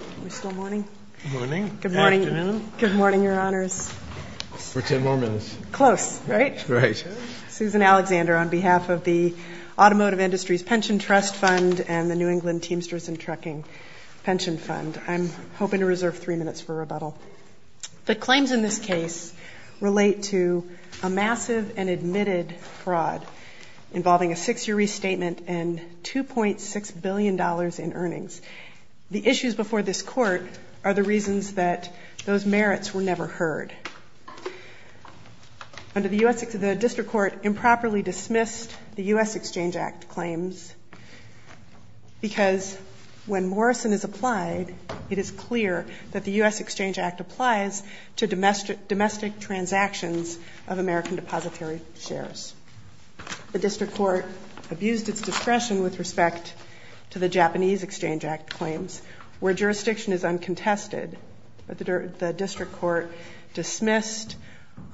Are we still morning? Good morning. Good morning. Afternoon. Good morning, Your Honors. We're ten more minutes. Close, right? Right. Susan Alexander on behalf of the Automotive Industries Pension Trust Fund and the New England Teamsters and Trucking Pension Fund. I'm hoping to reserve three minutes for rebuttal. The claims in this case relate to a massive and admitted fraud involving a six-year restatement and $2.6 billion in earnings. The issues before this Court are the reasons that those merits were never heard. The District Court improperly dismissed the U.S. Exchange Act claims because when Morrison is applied, it is clear that the U.S. Exchange Act applies to domestic transactions of American depository shares. The District Court abused its discretion with respect to the Japanese Exchange Act claims where jurisdiction is uncontested. The District Court dismissed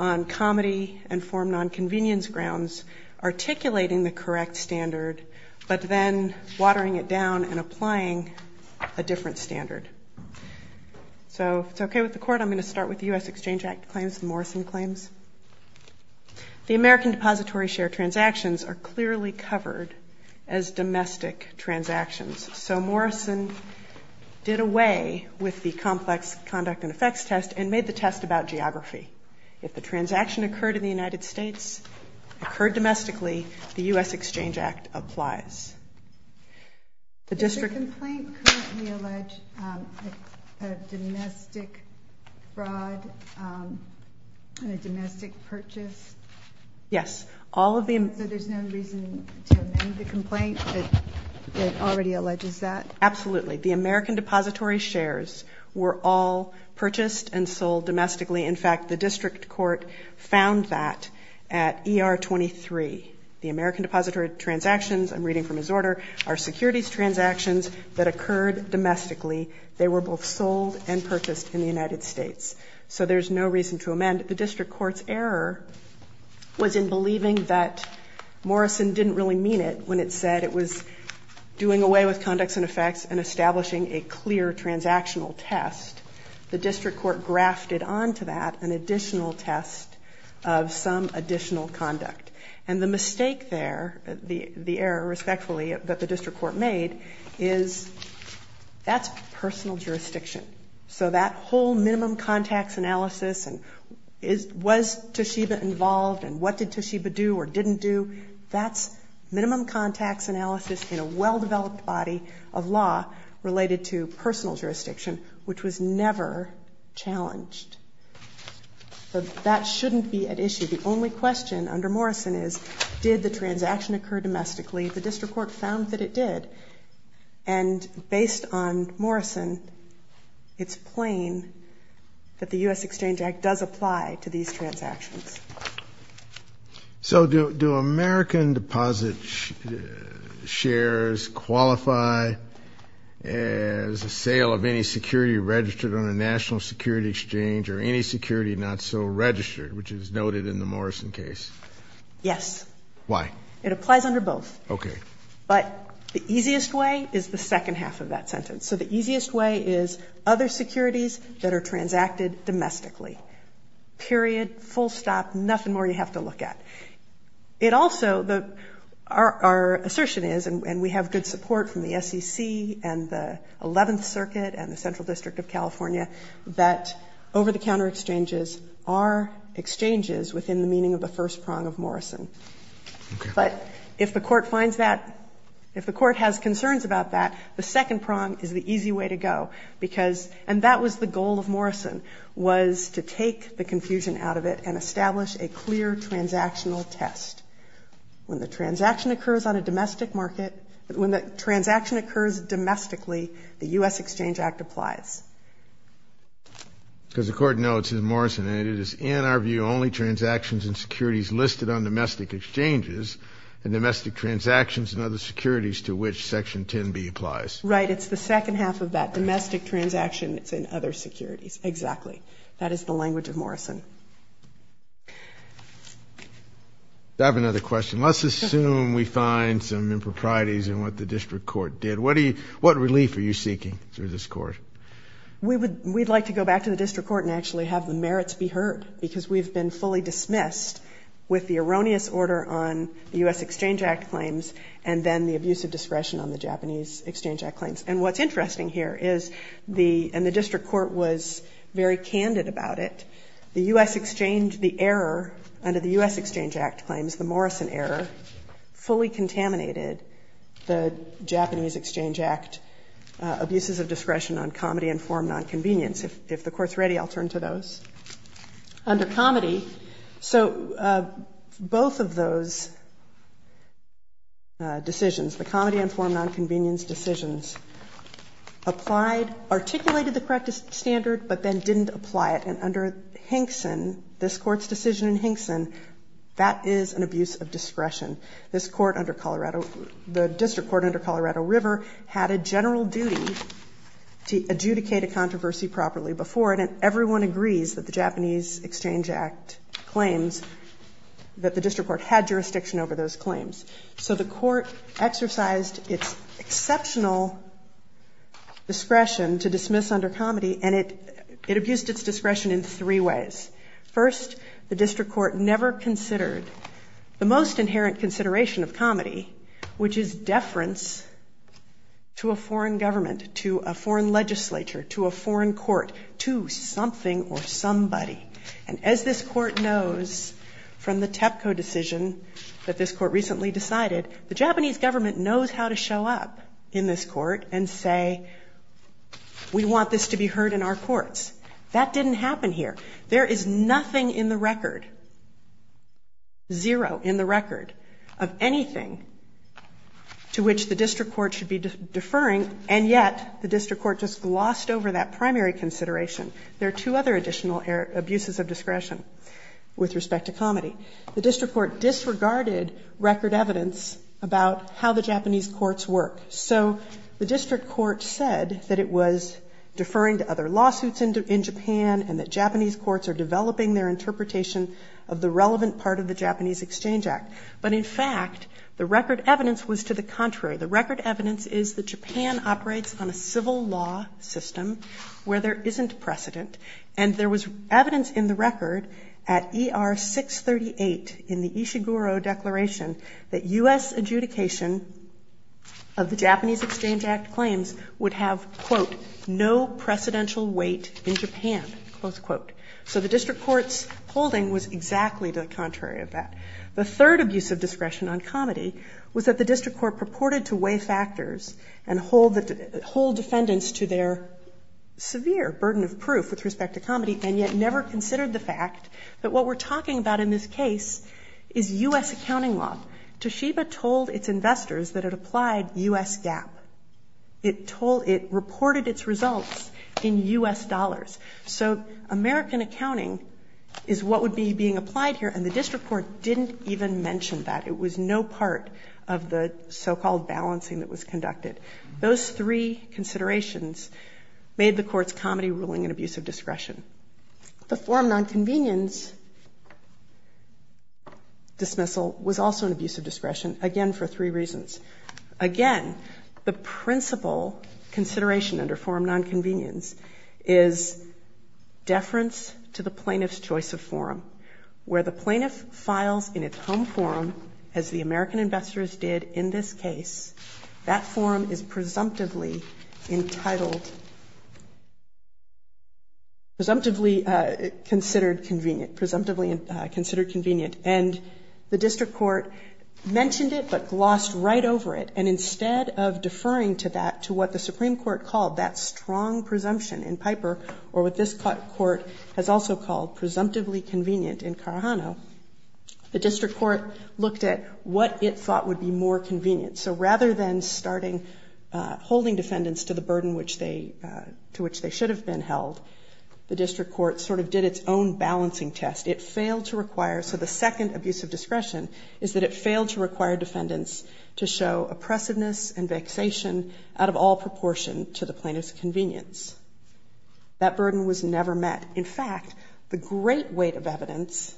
on comedy and form nonconvenience grounds articulating the correct standard but then watering it down and applying a different standard. So if it's okay with the Court, I'm going to start with the U.S. Exchange Act claims, the Morrison claims. The American depository share transactions are clearly covered as domestic transactions. So Morrison did away with the complex conduct and effects test and made the test about geography. If the transaction occurred in the United States, occurred domestically, the U.S. Exchange Act applies. Does the complaint currently allege domestic fraud and a domestic purchase? Yes. So there's no reason to amend the complaint that already alleges that? Absolutely. The American depository shares were all purchased and sold domestically. In fact, the District Court found that at ER23. The American depository transactions, I'm reading from his order, are securities transactions that occurred domestically. They were both sold and purchased in the United States. So there's no reason to amend. The District Court's error was in believing that Morrison didn't really mean it when it said it was doing away with conducts and effects and establishing a clear transactional test. The District Court grafted onto that an additional test of some additional conduct. And the mistake there, the error, respectfully, that the District Court made is that's personal jurisdiction. So that whole minimum contacts analysis and was Toshiba involved and what did Toshiba do or didn't do, that's minimum contacts analysis in a well-developed body of law related to personal jurisdiction, which was never challenged. So that shouldn't be at issue. The only question under Morrison is did the transaction occur domestically? The District Court found that it did. And based on Morrison, it's plain that the U.S. Exchange Act does apply to these transactions. So do American deposit shares qualify as a sale of any security registered on a national security exchange or any security not so registered, which is noted in the Morrison case? Yes. Why? It applies under both. Okay. But the easiest way is the second half of that sentence. So the easiest way is other securities that are transacted domestically, period, full stop, nothing more you have to look at. It also, our assertion is, and we have good support from the SEC and the Eleventh District of California, that over-the-counter exchanges are exchanges within the meaning of the first prong of Morrison. Okay. But if the Court finds that, if the Court has concerns about that, the second prong is the easy way to go because, and that was the goal of Morrison, was to take the confusion out of it and establish a clear transactional test. When the transaction occurs on a domestic market, when the transaction occurs domestically, the U.S. Exchange Act applies. Because the Court notes in Morrison, and it is in our view only transactions and securities listed on domestic exchanges and domestic transactions and other securities to which Section 10b applies. Right. It's the second half of that domestic transaction that's in other securities. Exactly. That is the language of Morrison. I have another question. Let's assume we find some improprieties in what the District Court did. What do you, what relief are you seeking through this Court? We would, we'd like to go back to the District Court and actually have the merits be heard because we've been fully dismissed with the erroneous order on the U.S. Exchange Act claims and then the abusive discretion on the Japanese Exchange Act claims. And what's interesting here is the, and the District Court was very candid about it, the U.S. Exchange, the error under the U.S. Exchange Act claims, the Morrison error, fully contaminated the Japanese Exchange Act abuses of discretion on comedy and form nonconvenience. If the Court's ready, I'll turn to those. Under comedy, so both of those decisions, the comedy and form nonconvenience decisions, applied, articulated the correct standard, but then didn't apply it. And under Hinkson, this Court's decision in Hinkson, that is an abuse of discretion. This Court under Colorado, the District Court under Colorado River had a general duty to adjudicate a controversy properly before it, and everyone agrees that the Japanese Exchange Act claims that the District Court had jurisdiction over those claims. So the Court exercised its exceptional discretion to dismiss under comedy, and it, it abused its discretion in three ways. First, the District Court never considered the most inherent consideration of comedy, which is deference to a foreign government, to a foreign legislature, to a foreign court, to something or somebody. And as this Court knows from the TEPCO decision that this Court recently decided, the Japanese government knows how to show up in this Court and say, we want this to be heard in our courts. That didn't happen here. There is nothing in the record, zero in the record of anything to which the District Court should be deferring, and yet the District Court just glossed over that primary consideration. There are two other additional abuses of discretion with respect to comedy. The District Court disregarded record evidence about how the Japanese courts work. So the District Court said that it was deferring to other lawsuits in Japan, and that Japanese courts are developing their interpretation of the relevant part of the Japanese Exchange Act. But in fact, the record evidence was to the contrary. The record evidence is that Japan operates on a civil law system where there isn't precedent, and there was evidence in the record at ER 638 in the Ishiguro Declaration that U.S. adjudication of the Japanese Exchange Act claims would have, quote, no precedential weight in Japan, close quote. So the District Court's holding was exactly the contrary of that. The third abuse of discretion on comedy was that the District Court purported to weigh factors and hold defendants to their severe burden of proof with respect to comedy, and yet never considered the fact that what we're talking about in this case is U.S. accounting law. Toshiba told its investors that it applied U.S. GAAP. It reported its results in U.S. dollars. So American accounting is what would be being applied here, and the District Court didn't even mention that. It was no part of the so-called balancing that was conducted. Those three considerations made the Court's comedy ruling an abuse of discretion. The forum nonconvenience dismissal was also an abuse of discretion, again, for three reasons. Again, the principal consideration under forum nonconvenience is deference to the plaintiff's choice of forum, where the plaintiff files in its home forum, as the American investors did in this case. That forum is presumptively entitled, presumptively considered convenient, presumptively considered convenient. And the District Court mentioned it, but glossed right over it. And instead of deferring to that, to what the Supreme Court called that strong presumption in Piper, or what this Court has also called presumptively convenient in Carajano, the District Court looked at what it thought would be more convenient. So rather than starting holding defendants to the burden to which they should have been held, the District Court sort of did its own balancing test. It failed to require, so the second abuse of discretion is that it failed to require defendants to show oppressiveness and vexation out of all proportion to the plaintiff's convenience. That burden was never met. In fact, the great weight of evidence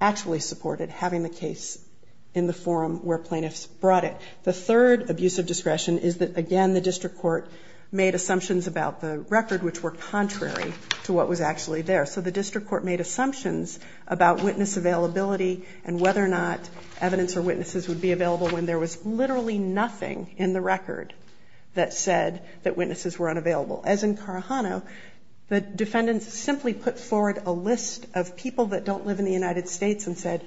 actually supported having the case in the forum where plaintiffs brought it. The third abuse of discretion is that, again, the District Court made assumptions about the record, which were contrary to what was actually there. So the District Court made assumptions about witness availability and whether or not evidence or witnesses would be available when there was literally nothing in the record that said that witnesses were unavailable. As in Carajano, the defendants simply put forward a list of people that don't live in the United States and said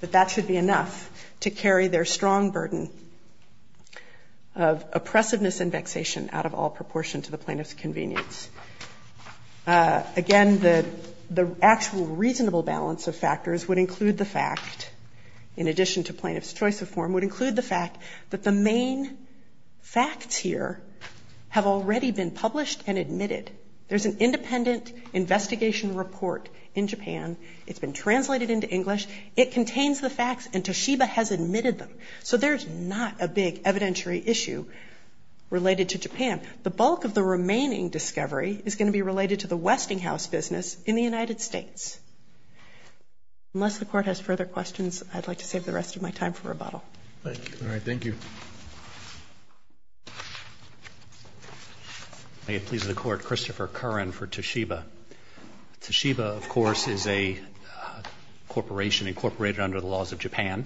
that that should be enough to carry their strong burden of oppressiveness and vexation out of all proportion to the plaintiff's convenience. Again, the actual reasonable balance of factors would include the fact, in addition to plaintiff's choice of form, would include the fact that the main facts here have already been published and admitted. There's an independent investigation report in Japan. It's been translated into English. It contains the facts and Toshiba has admitted them. So there's not a big evidentiary issue related to Japan. The bulk of the remaining discovery is going to be related to the Westinghouse business in the United States. Unless the Court has further questions, I'd like to save the rest of my time for rebuttal. Thank you. May it please the Court. Christopher Curran for Toshiba. Toshiba, of course, is a corporation incorporated under the laws of Japan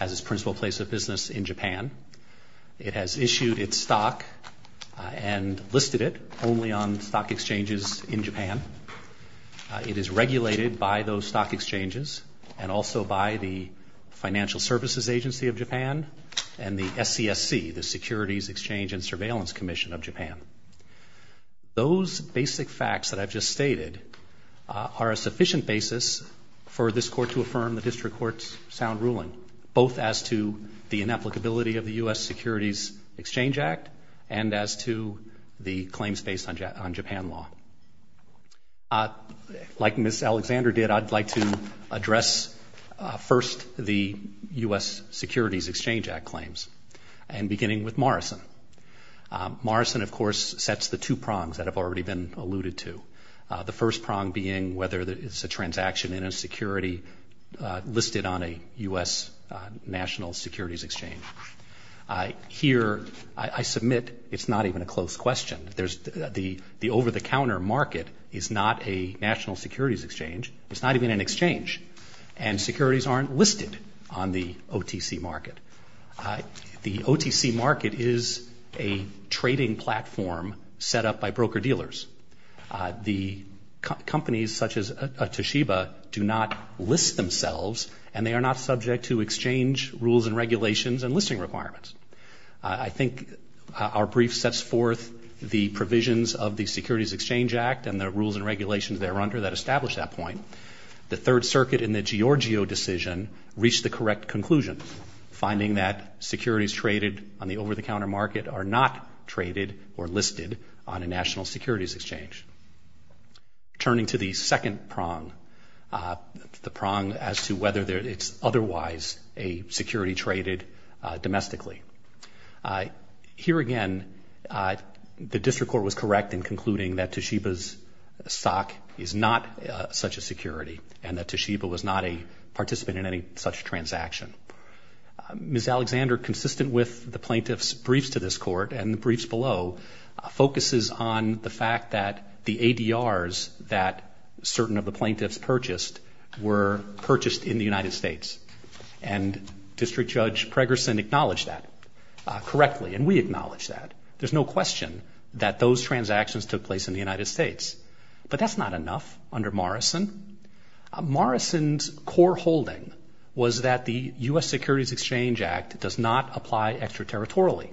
as its principal place of business in Japan. It has issued its stock and listed it only on stock exchanges in Japan. It is regulated by those stock exchanges and also by the Financial Services Agency of Japan. And the SCSC, the Securities Exchange and Surveillance Commission of Japan. Those basic facts that I've just stated are a sufficient basis for this Court to affirm the district court's sound ruling, both as to the inapplicability of the U.S. Securities Exchange Act and as to the claims based on Japan law. Like Ms. Alexander did, I'd like to address first the U.S. Securities Exchange Act claims, and beginning with Morrison. Morrison, of course, sets the two prongs that have already been alluded to. The first prong being whether it's a transaction in a security listed on a U.S. National Securities Exchange. Here I submit it's not even a close question. There's the over-the-counter market is not a national securities exchange. It's not even an exchange, and securities aren't listed on the OTC market. The OTC market is a trading platform set up by broker-dealers. The companies such as Toshiba do not list themselves, and they are not subject to exchange rules and regulations and listing requirements. I think our brief sets forth the provisions of the Securities Exchange Act and the rules and regulations there under that establish that point. The Third Circuit in the Giorgio decision reached the correct conclusion, finding that securities traded on the over-the-counter market are not traded or listed on a national securities exchange. Turning to the second prong, the prong as to whether it's otherwise a security traded domestically. Here again, the district court was correct in concluding that Toshiba's stock is not such a security and that Toshiba was not a participant in any such transaction. Ms. Alexander, consistent with the plaintiff's briefs to this court and the briefs below, focuses on the fact that the ADRs that certain of the plaintiffs purchased were purchased in the United States. And District Judge Pregerson acknowledged that correctly, and we acknowledge that. There's no question that those transactions took place in the United States. But that's not enough under Morrison. Morrison's core holding was that the U.S. Securities Exchange Act does not apply extraterritorially.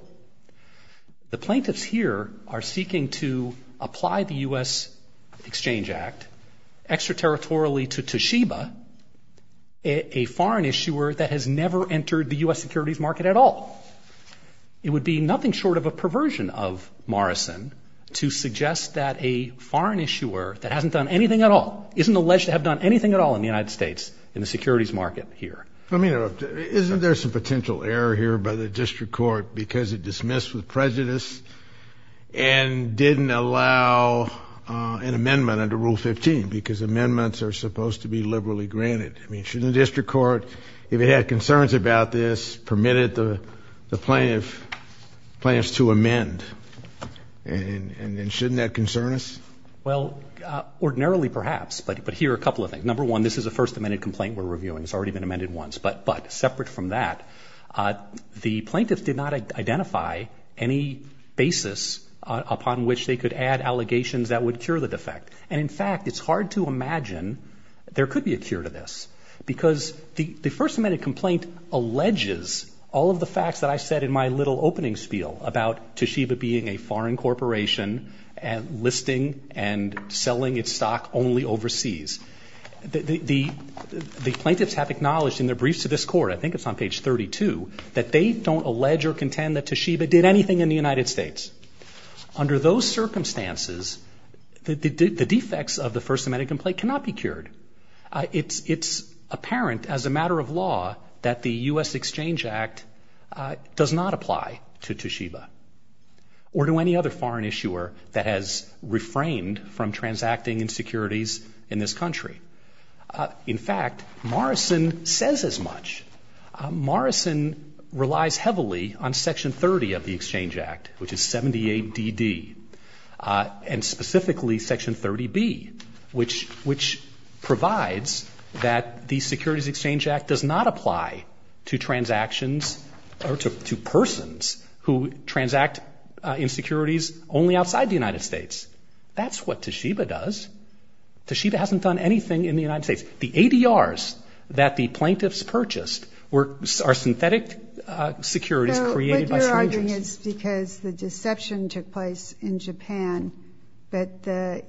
The plaintiffs here are seeking to apply the U.S. Exchange Act extraterritorially to Toshiba, a foreign issuer that has never entered the U.S. securities market at all. It would be nothing short of a perversion of Morrison to suggest that a foreign issuer would have done anything at all in the United States in the securities market here. Isn't there some potential error here by the district court because it dismissed with prejudice and didn't allow an amendment under Rule 15, because amendments are supposed to be liberally granted? I mean, shouldn't the district court, if it had concerns about this, permitted the plaintiffs to amend? And shouldn't that concern us? Well, ordinarily perhaps, but here are a couple of things. Number one, this is a first amended complaint we're reviewing. It's already been amended once, but separate from that, the plaintiffs did not identify any basis upon which they could add allegations that would cure the defect. And in fact, it's hard to imagine there could be a cure to this because the first amended complaint alleges all of the facts that I said in my little opening spiel about Toshiba being a foreign corporation and listing and selling its stock only overseas. The plaintiffs have acknowledged in their briefs to this court, I think it's on page 32, that they don't allege or contend that Toshiba did anything in the United States. Under those circumstances, the defects of the first amended complaint cannot be cured. It's apparent as a matter of law that the U.S. Exchange Act does not apply to Toshiba or to any other foreign issuer that has refrained from transacting in securities in this country. In fact, Morrison says as much. Morrison relies heavily on Section 30 of the Exchange Act, which is 78DD, and specifically Section 30B, which provides that the Securities Exchange Act does not apply to transactions or to persons who transact in securities only outside the United States. That's what Toshiba does. Toshiba hasn't done anything in the United States. The ADRs that the plaintiffs purchased are synthetic securities created by strangers. My understanding is because the deception took place in Japan, but the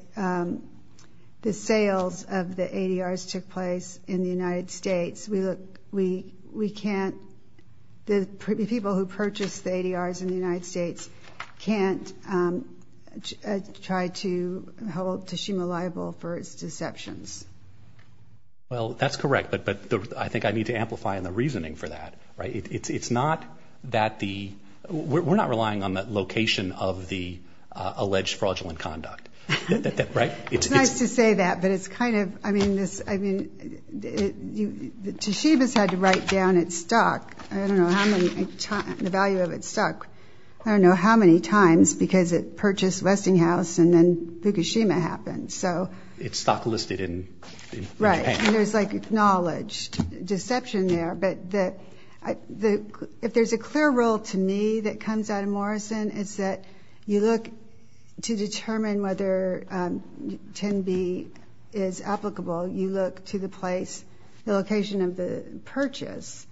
sales of the ADRs took place in the United States. We look, we can't, the people who purchased the ADRs in the United States can't try to hold Toshiba liable for its deceptions. Well, that's correct, but I think I need to amplify in the reasoning for that. It's not that the, we're not relying on the location of the alleged fraudulent conduct. It's nice to say that, but it's kind of, I mean, Toshiba's had to write down its stock, I don't know how many times, the value of its stock, I don't know how many times, because it purchased Westinghouse and then Fukushima happened. Its stock listed in Japan. Right, and there's like acknowledged deception there, but if there's a clear rule to me that comes out of Morrison, it's that you look to determine whether 10B is applicable, you look to the place, the location of the purchase,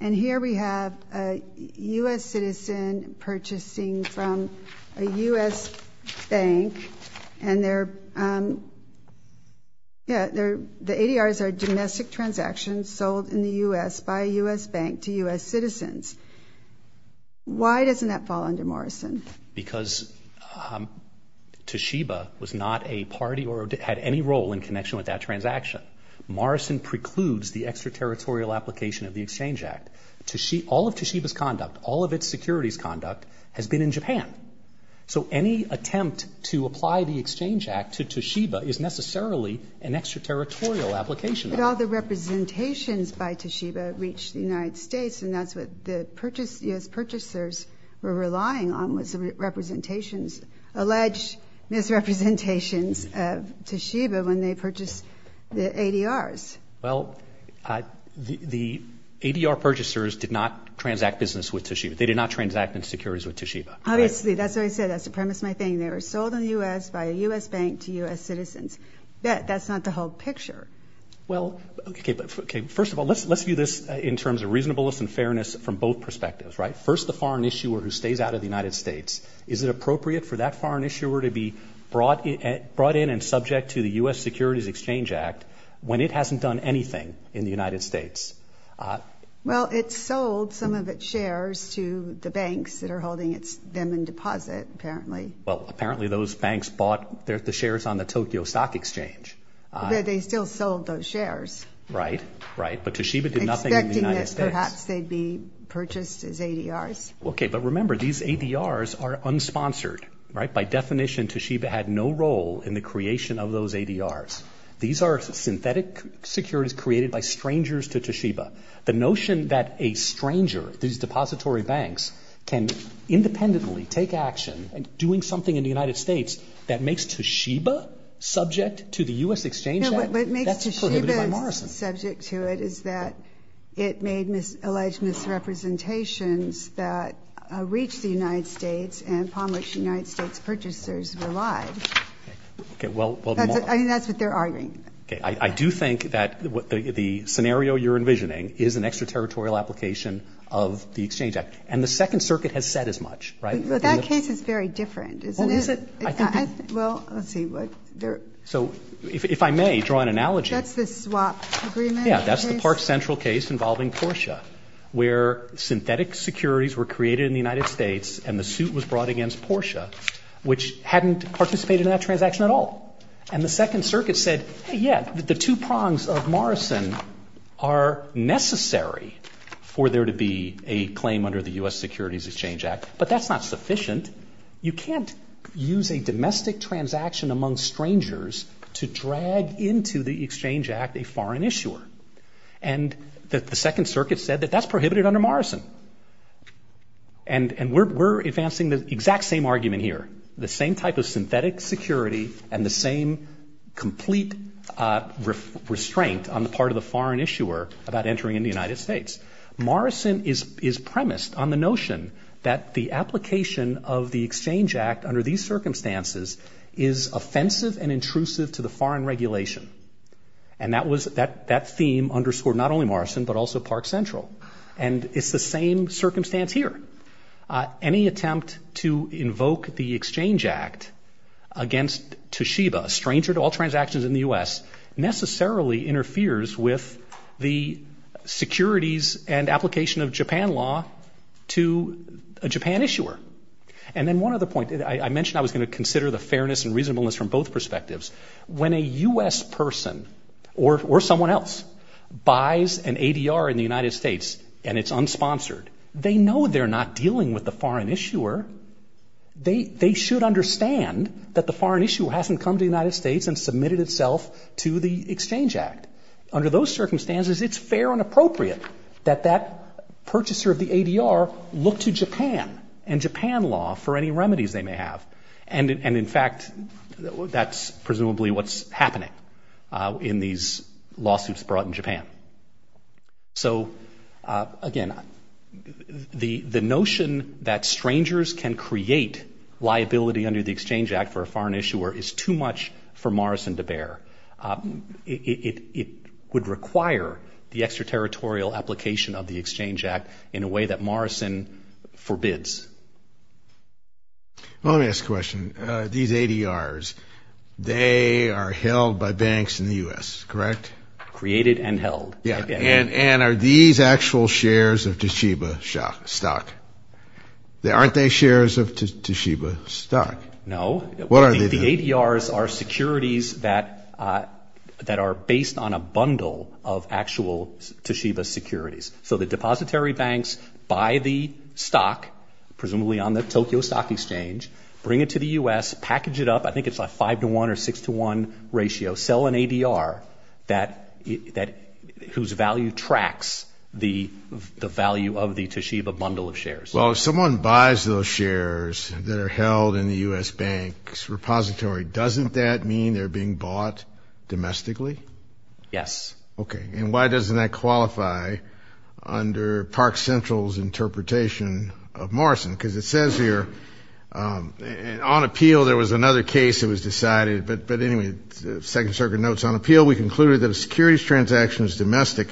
and here we have a U.S. citizen purchasing from a U.S. bank, and the ADRs are domestic transactions sold in the U.S. by a U.S. bank to U.S. citizens. Why doesn't that fall under Morrison? Because Toshiba was not a party or had any role in connection with that transaction. Morrison precludes the extraterritorial application of the Exchange Act. All of Toshiba's conduct, all of its securities conduct, has been in Japan. So any attempt to apply the Exchange Act to Toshiba is necessarily an extraterritorial application. But all the representations by Toshiba reach the United States, and that's what the U.S. purchasers were relying on was representations, alleged misrepresentations of Toshiba when they purchased the ADRs. Well, the ADR purchasers did not transact business with Toshiba. They did not transact in securities with Toshiba. Obviously. That's what I said. That's the premise of my thing. They were sold in the U.S. by a U.S. bank to U.S. citizens. That's not the whole picture. Well, OK, but first of all, let's view this in terms of reasonableness and fairness from both perspectives, right? First, the foreign issuer who stays out of the United States. Is it appropriate for that foreign issuer to be brought in and subject to the U.S. Securities Exchange Act when it hasn't done anything in the United States? Well, it sold some of its shares to the banks that are holding them in deposit, apparently. Well, apparently those banks bought the shares on the Tokyo Stock Exchange. But they still sold those shares. Right, right. But Toshiba did nothing in the United States. Expecting that perhaps they'd be purchased as ADRs. OK, but remember, these ADRs are unsponsored, right? Well, if you're doing something in the United States that makes Toshiba subject to the U.S. Exchange Act, that's prohibited by Morrison. No, what makes Toshiba subject to it is that it made alleged misrepresentations that reached the United States and promised United States purchasers were lied. I mean, that's what they're arguing. OK, I do think that the scenario you're envisioning is an extraterritorial application of the Exchange Act. And the Second Circuit has said as much, right? But that case is very different, isn't it? Well, let's see. So if I may draw an analogy. That's the swap agreement. Yeah, that's the Park Central case involving Porsche, where synthetic securities were created in the United States and the suit was brought against Porsche, which hadn't participated in that transaction at all. And the Second Circuit said, hey, yeah, the two prongs of Morrison are necessary for there to be a claim under the U.S. Securities Exchange Act. But that's not sufficient. You can't use a domestic transaction among strangers to drag into the Exchange Act a foreign issuer. And the Second Circuit said that that's prohibited under Morrison. And we're advancing the exact same argument here, the same type of synthetic security and the same complete restraint on the part of the foreign issuer about entering in the United States. Morrison is premised on the notion that the application of the Exchange Act under these circumstances is offensive and intrusive to the foreign regulation. And that theme underscored not only Morrison, but also Park Central. And it's the same circumstance here. Any attempt to invoke the Exchange Act against Toshiba, a stranger to all transactions in the U.S., necessarily interferes with the securities and application of Japan law to a Japan issuer. And then one other point. I mentioned I was going to consider the fairness and reasonableness from both perspectives. When a U.S. person or someone else buys an ADR in the United States and it's unsponsored, they know they're not dealing with the foreign issuer. They should understand that the foreign issuer hasn't come to the United States and submitted itself to the Exchange Act. Under those circumstances, it's fair and appropriate that that purchaser of the ADR look to Japan and Japan law for any remedies they may have. And in fact, that's presumably what's happening in these lawsuits brought in Japan. So, again, the notion that strangers can create liability under the Exchange Act for a foreign issuer is too much for Morrison to bear. It would require the extraterritorial application of the Exchange Act in a way that Morrison forbids. Well, let me ask a question. These ADRs, they are held by banks in the U.S., correct? Created and held. And are these actual shares of Toshiba stock? Aren't they shares of Toshiba stock? No. The ADRs are securities that are based on a bundle of actual Toshiba securities. So the depository banks buy the stock, presumably on the Tokyo Stock Exchange, bring it to the U.S., package it up, I think it's a 5 to 1 or 6 to 1 ratio, sell an ADR whose value tracks the value of the Toshiba bundle of shares. Well, if someone buys those shares that are held in the U.S. bank's repository, doesn't that mean they're being bought domestically? Yes. Okay. And why doesn't that qualify under Park Central's interpretation of Morrison? Because it says here, on appeal there was another case that was decided, but anyway, the Second Circuit notes, on appeal we concluded that a securities transaction is domestic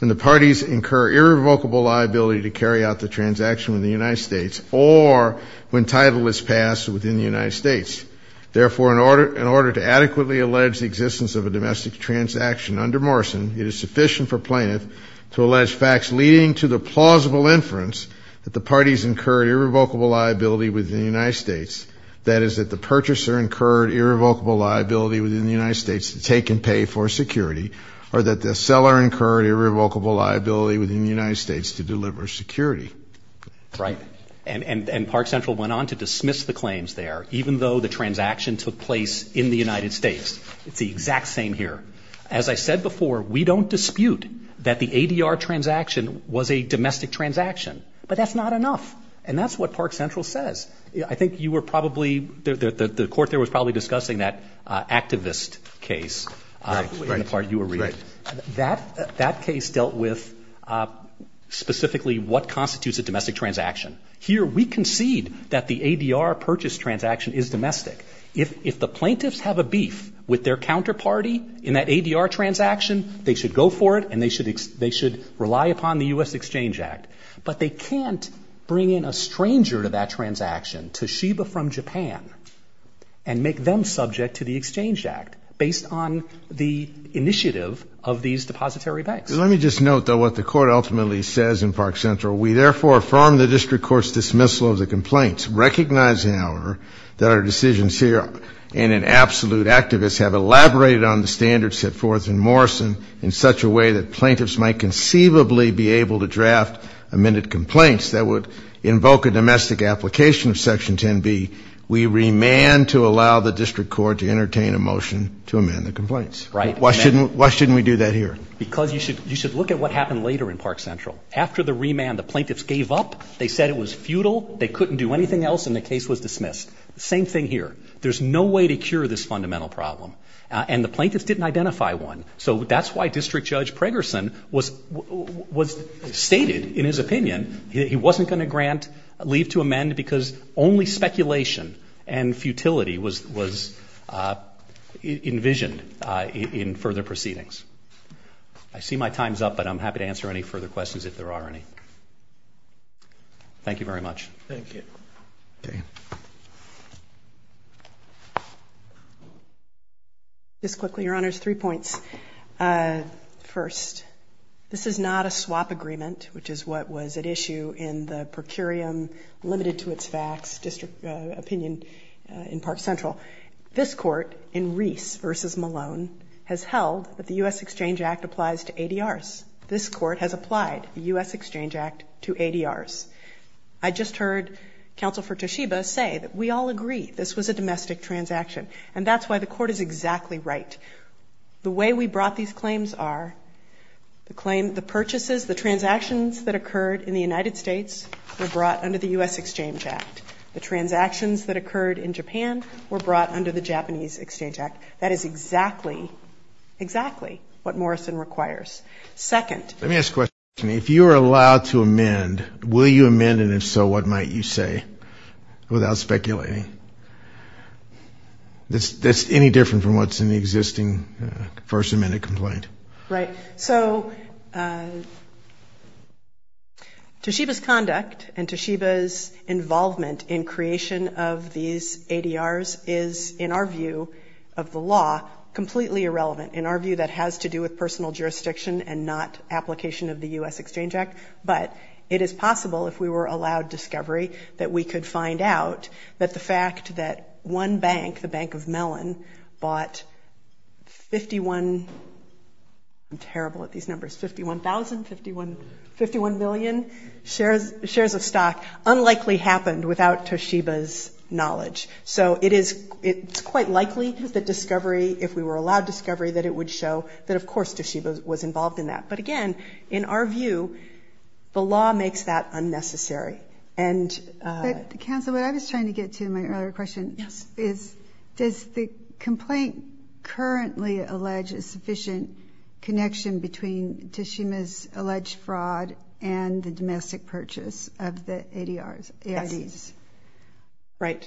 and the parties incur irrevocable liability to carry out the transaction in the United States or when title is passed within the United States. Therefore, in order to adequately allege the existence of a domestic transaction under Morrison, it is sufficient for plaintiff to allege facts leading to the plausible inference that the parties incur irrevocable liability within the United States, that is, that the purchaser incurred irrevocable liability within the United States to take and pay for security or that the seller incurred irrevocable liability within the United States to deliver security. Right. And Park Central went on to dismiss the claims there, even though the transaction took place in the United States. It's the exact same here. As I said before, we don't dispute that the ADR transaction was a domestic transaction, but that's not enough. And that's what Park Central says. I think you were probably, the court there was probably discussing that activist case in the part you were reading. That case dealt with specifically what constitutes a domestic transaction. Here we concede that the ADR purchase transaction is domestic. If the plaintiffs have a beef with their counterparty in that ADR transaction, they should go for it and they should rely upon the U.S. Exchange Act. But they can't bring in a stranger to that transaction, Toshiba from Japan, and make them subject to the Exchange Act based on the initiative of these depository banks. Let me just note, though, what the court ultimately says in Park Central. We therefore affirm the district court's dismissal of the complaints, recognizing, however, that our decisions here and in absolute activists have elaborated on the standards set forth in Morrison in such a way that plaintiffs might conceivably be able to draft amended complaints that would invoke a domestic application of Section 10b. We remand to allow the district court to entertain a motion to amend the complaints. Right. Why shouldn't we do that here? Because you should look at what happened later in Park Central. After the remand, the plaintiffs gave up. They said it was futile, they couldn't do anything else, and the case was dismissed. Same thing here. There's no way to cure this fundamental problem. And the plaintiffs didn't identify one. So that's why District Judge Preggerson was stated in his opinion that he wasn't going to grant leave to amend because only speculation and futility was envisioned in further proceedings. I see my time's up, but I'm happy to answer any further questions if there are any. Thank you very much. Thank you. Okay. Just quickly, Your Honors, three points. First, this is not a swap agreement, which is what was at issue in the per curiam limited to its facts district opinion in Park Central. This court in Reese v. Malone has held that the U.S. Exchange Act applies to ADRs. This court has applied the U.S. Exchange Act to ADRs. I just heard Counsel for Toshiba say that we all agree this was a domestic transaction. And that's why the court is exactly right. The way we brought these claims are the purchases, the transactions that occurred in the United States were brought under the U.S. Exchange Act. The transactions that occurred in Japan were brought under the Japanese Exchange Act. That is exactly, exactly what Morrison requires. Second. Let me ask a question. If you are allowed to amend, will you amend, and if so, what might you say, without speculating? That's any different from what's in the existing first amendment complaint. Right. So Toshiba's conduct and Toshiba's involvement in creation of these ADRs is, in our view of the law, completely irrelevant. In our view, that has to do with personal jurisdiction and not application of the U.S. Exchange Act. But it is possible, if we were allowed discovery, that we could find out that the fact that one bank, the Bank of Mellon, bought 51, I'm terrible at these numbers, 51,000, 51 million shares of stock, unlikely happened without Toshiba's knowledge. So it's quite likely that discovery, if we were allowed discovery, that it would show that, of course, Toshiba was involved in that. But again, in our view, the law makes that unnecessary. Counsel, what I was trying to get to in my earlier question is, does the complaint currently allege a sufficient connection between Toshiba's alleged fraud and the domestic purchase of the ADRs, AIDs?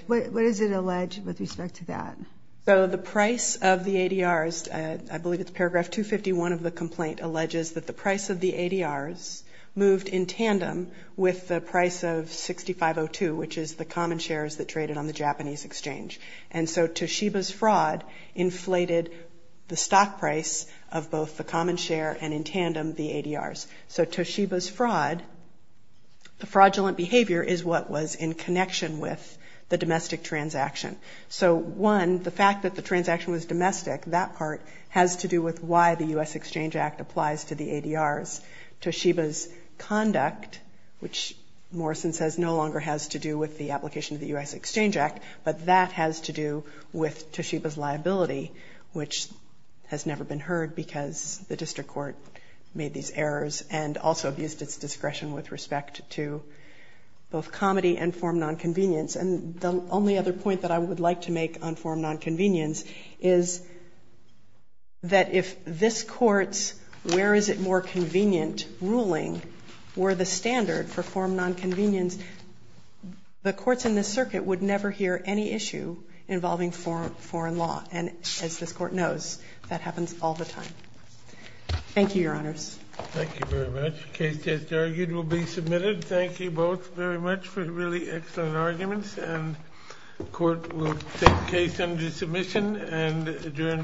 What does it allege with respect to that? So the price of the ADRs, I believe it's paragraph 251 of the complaint, alleges that the price of the ADRs moved in tandem with the price of 6502, which is the common shares that traded on the Japanese exchange. And so Toshiba's fraud inflated the stock price of both the common share and, in tandem, the ADRs. So Toshiba's fraud, the fraudulent behavior, is what was in connection with the domestic transaction. So, one, the fact that the transaction was domestic, that part has to do with why the U.S. Exchange Act applies. It applies to the ADRs. Toshiba's conduct, which Morrison says no longer has to do with the application of the U.S. Exchange Act, but that has to do with Toshiba's liability, which has never been heard because the district court made these errors and also abused its discretion with respect to both comity and form nonconvenience. And the only other point that I would like to make on form nonconvenience is that if this Court's where-is-it-more-convenient ruling were the standard for form nonconvenience, the courts in this circuit would never hear any issue involving foreign law. And as this Court knows, that happens all the time. Thank you, Your Honors. Thank you very much. The case just argued will be submitted. Thank you both very much for really excellent arguments, and the Court will take the case under submission and adjourn for today.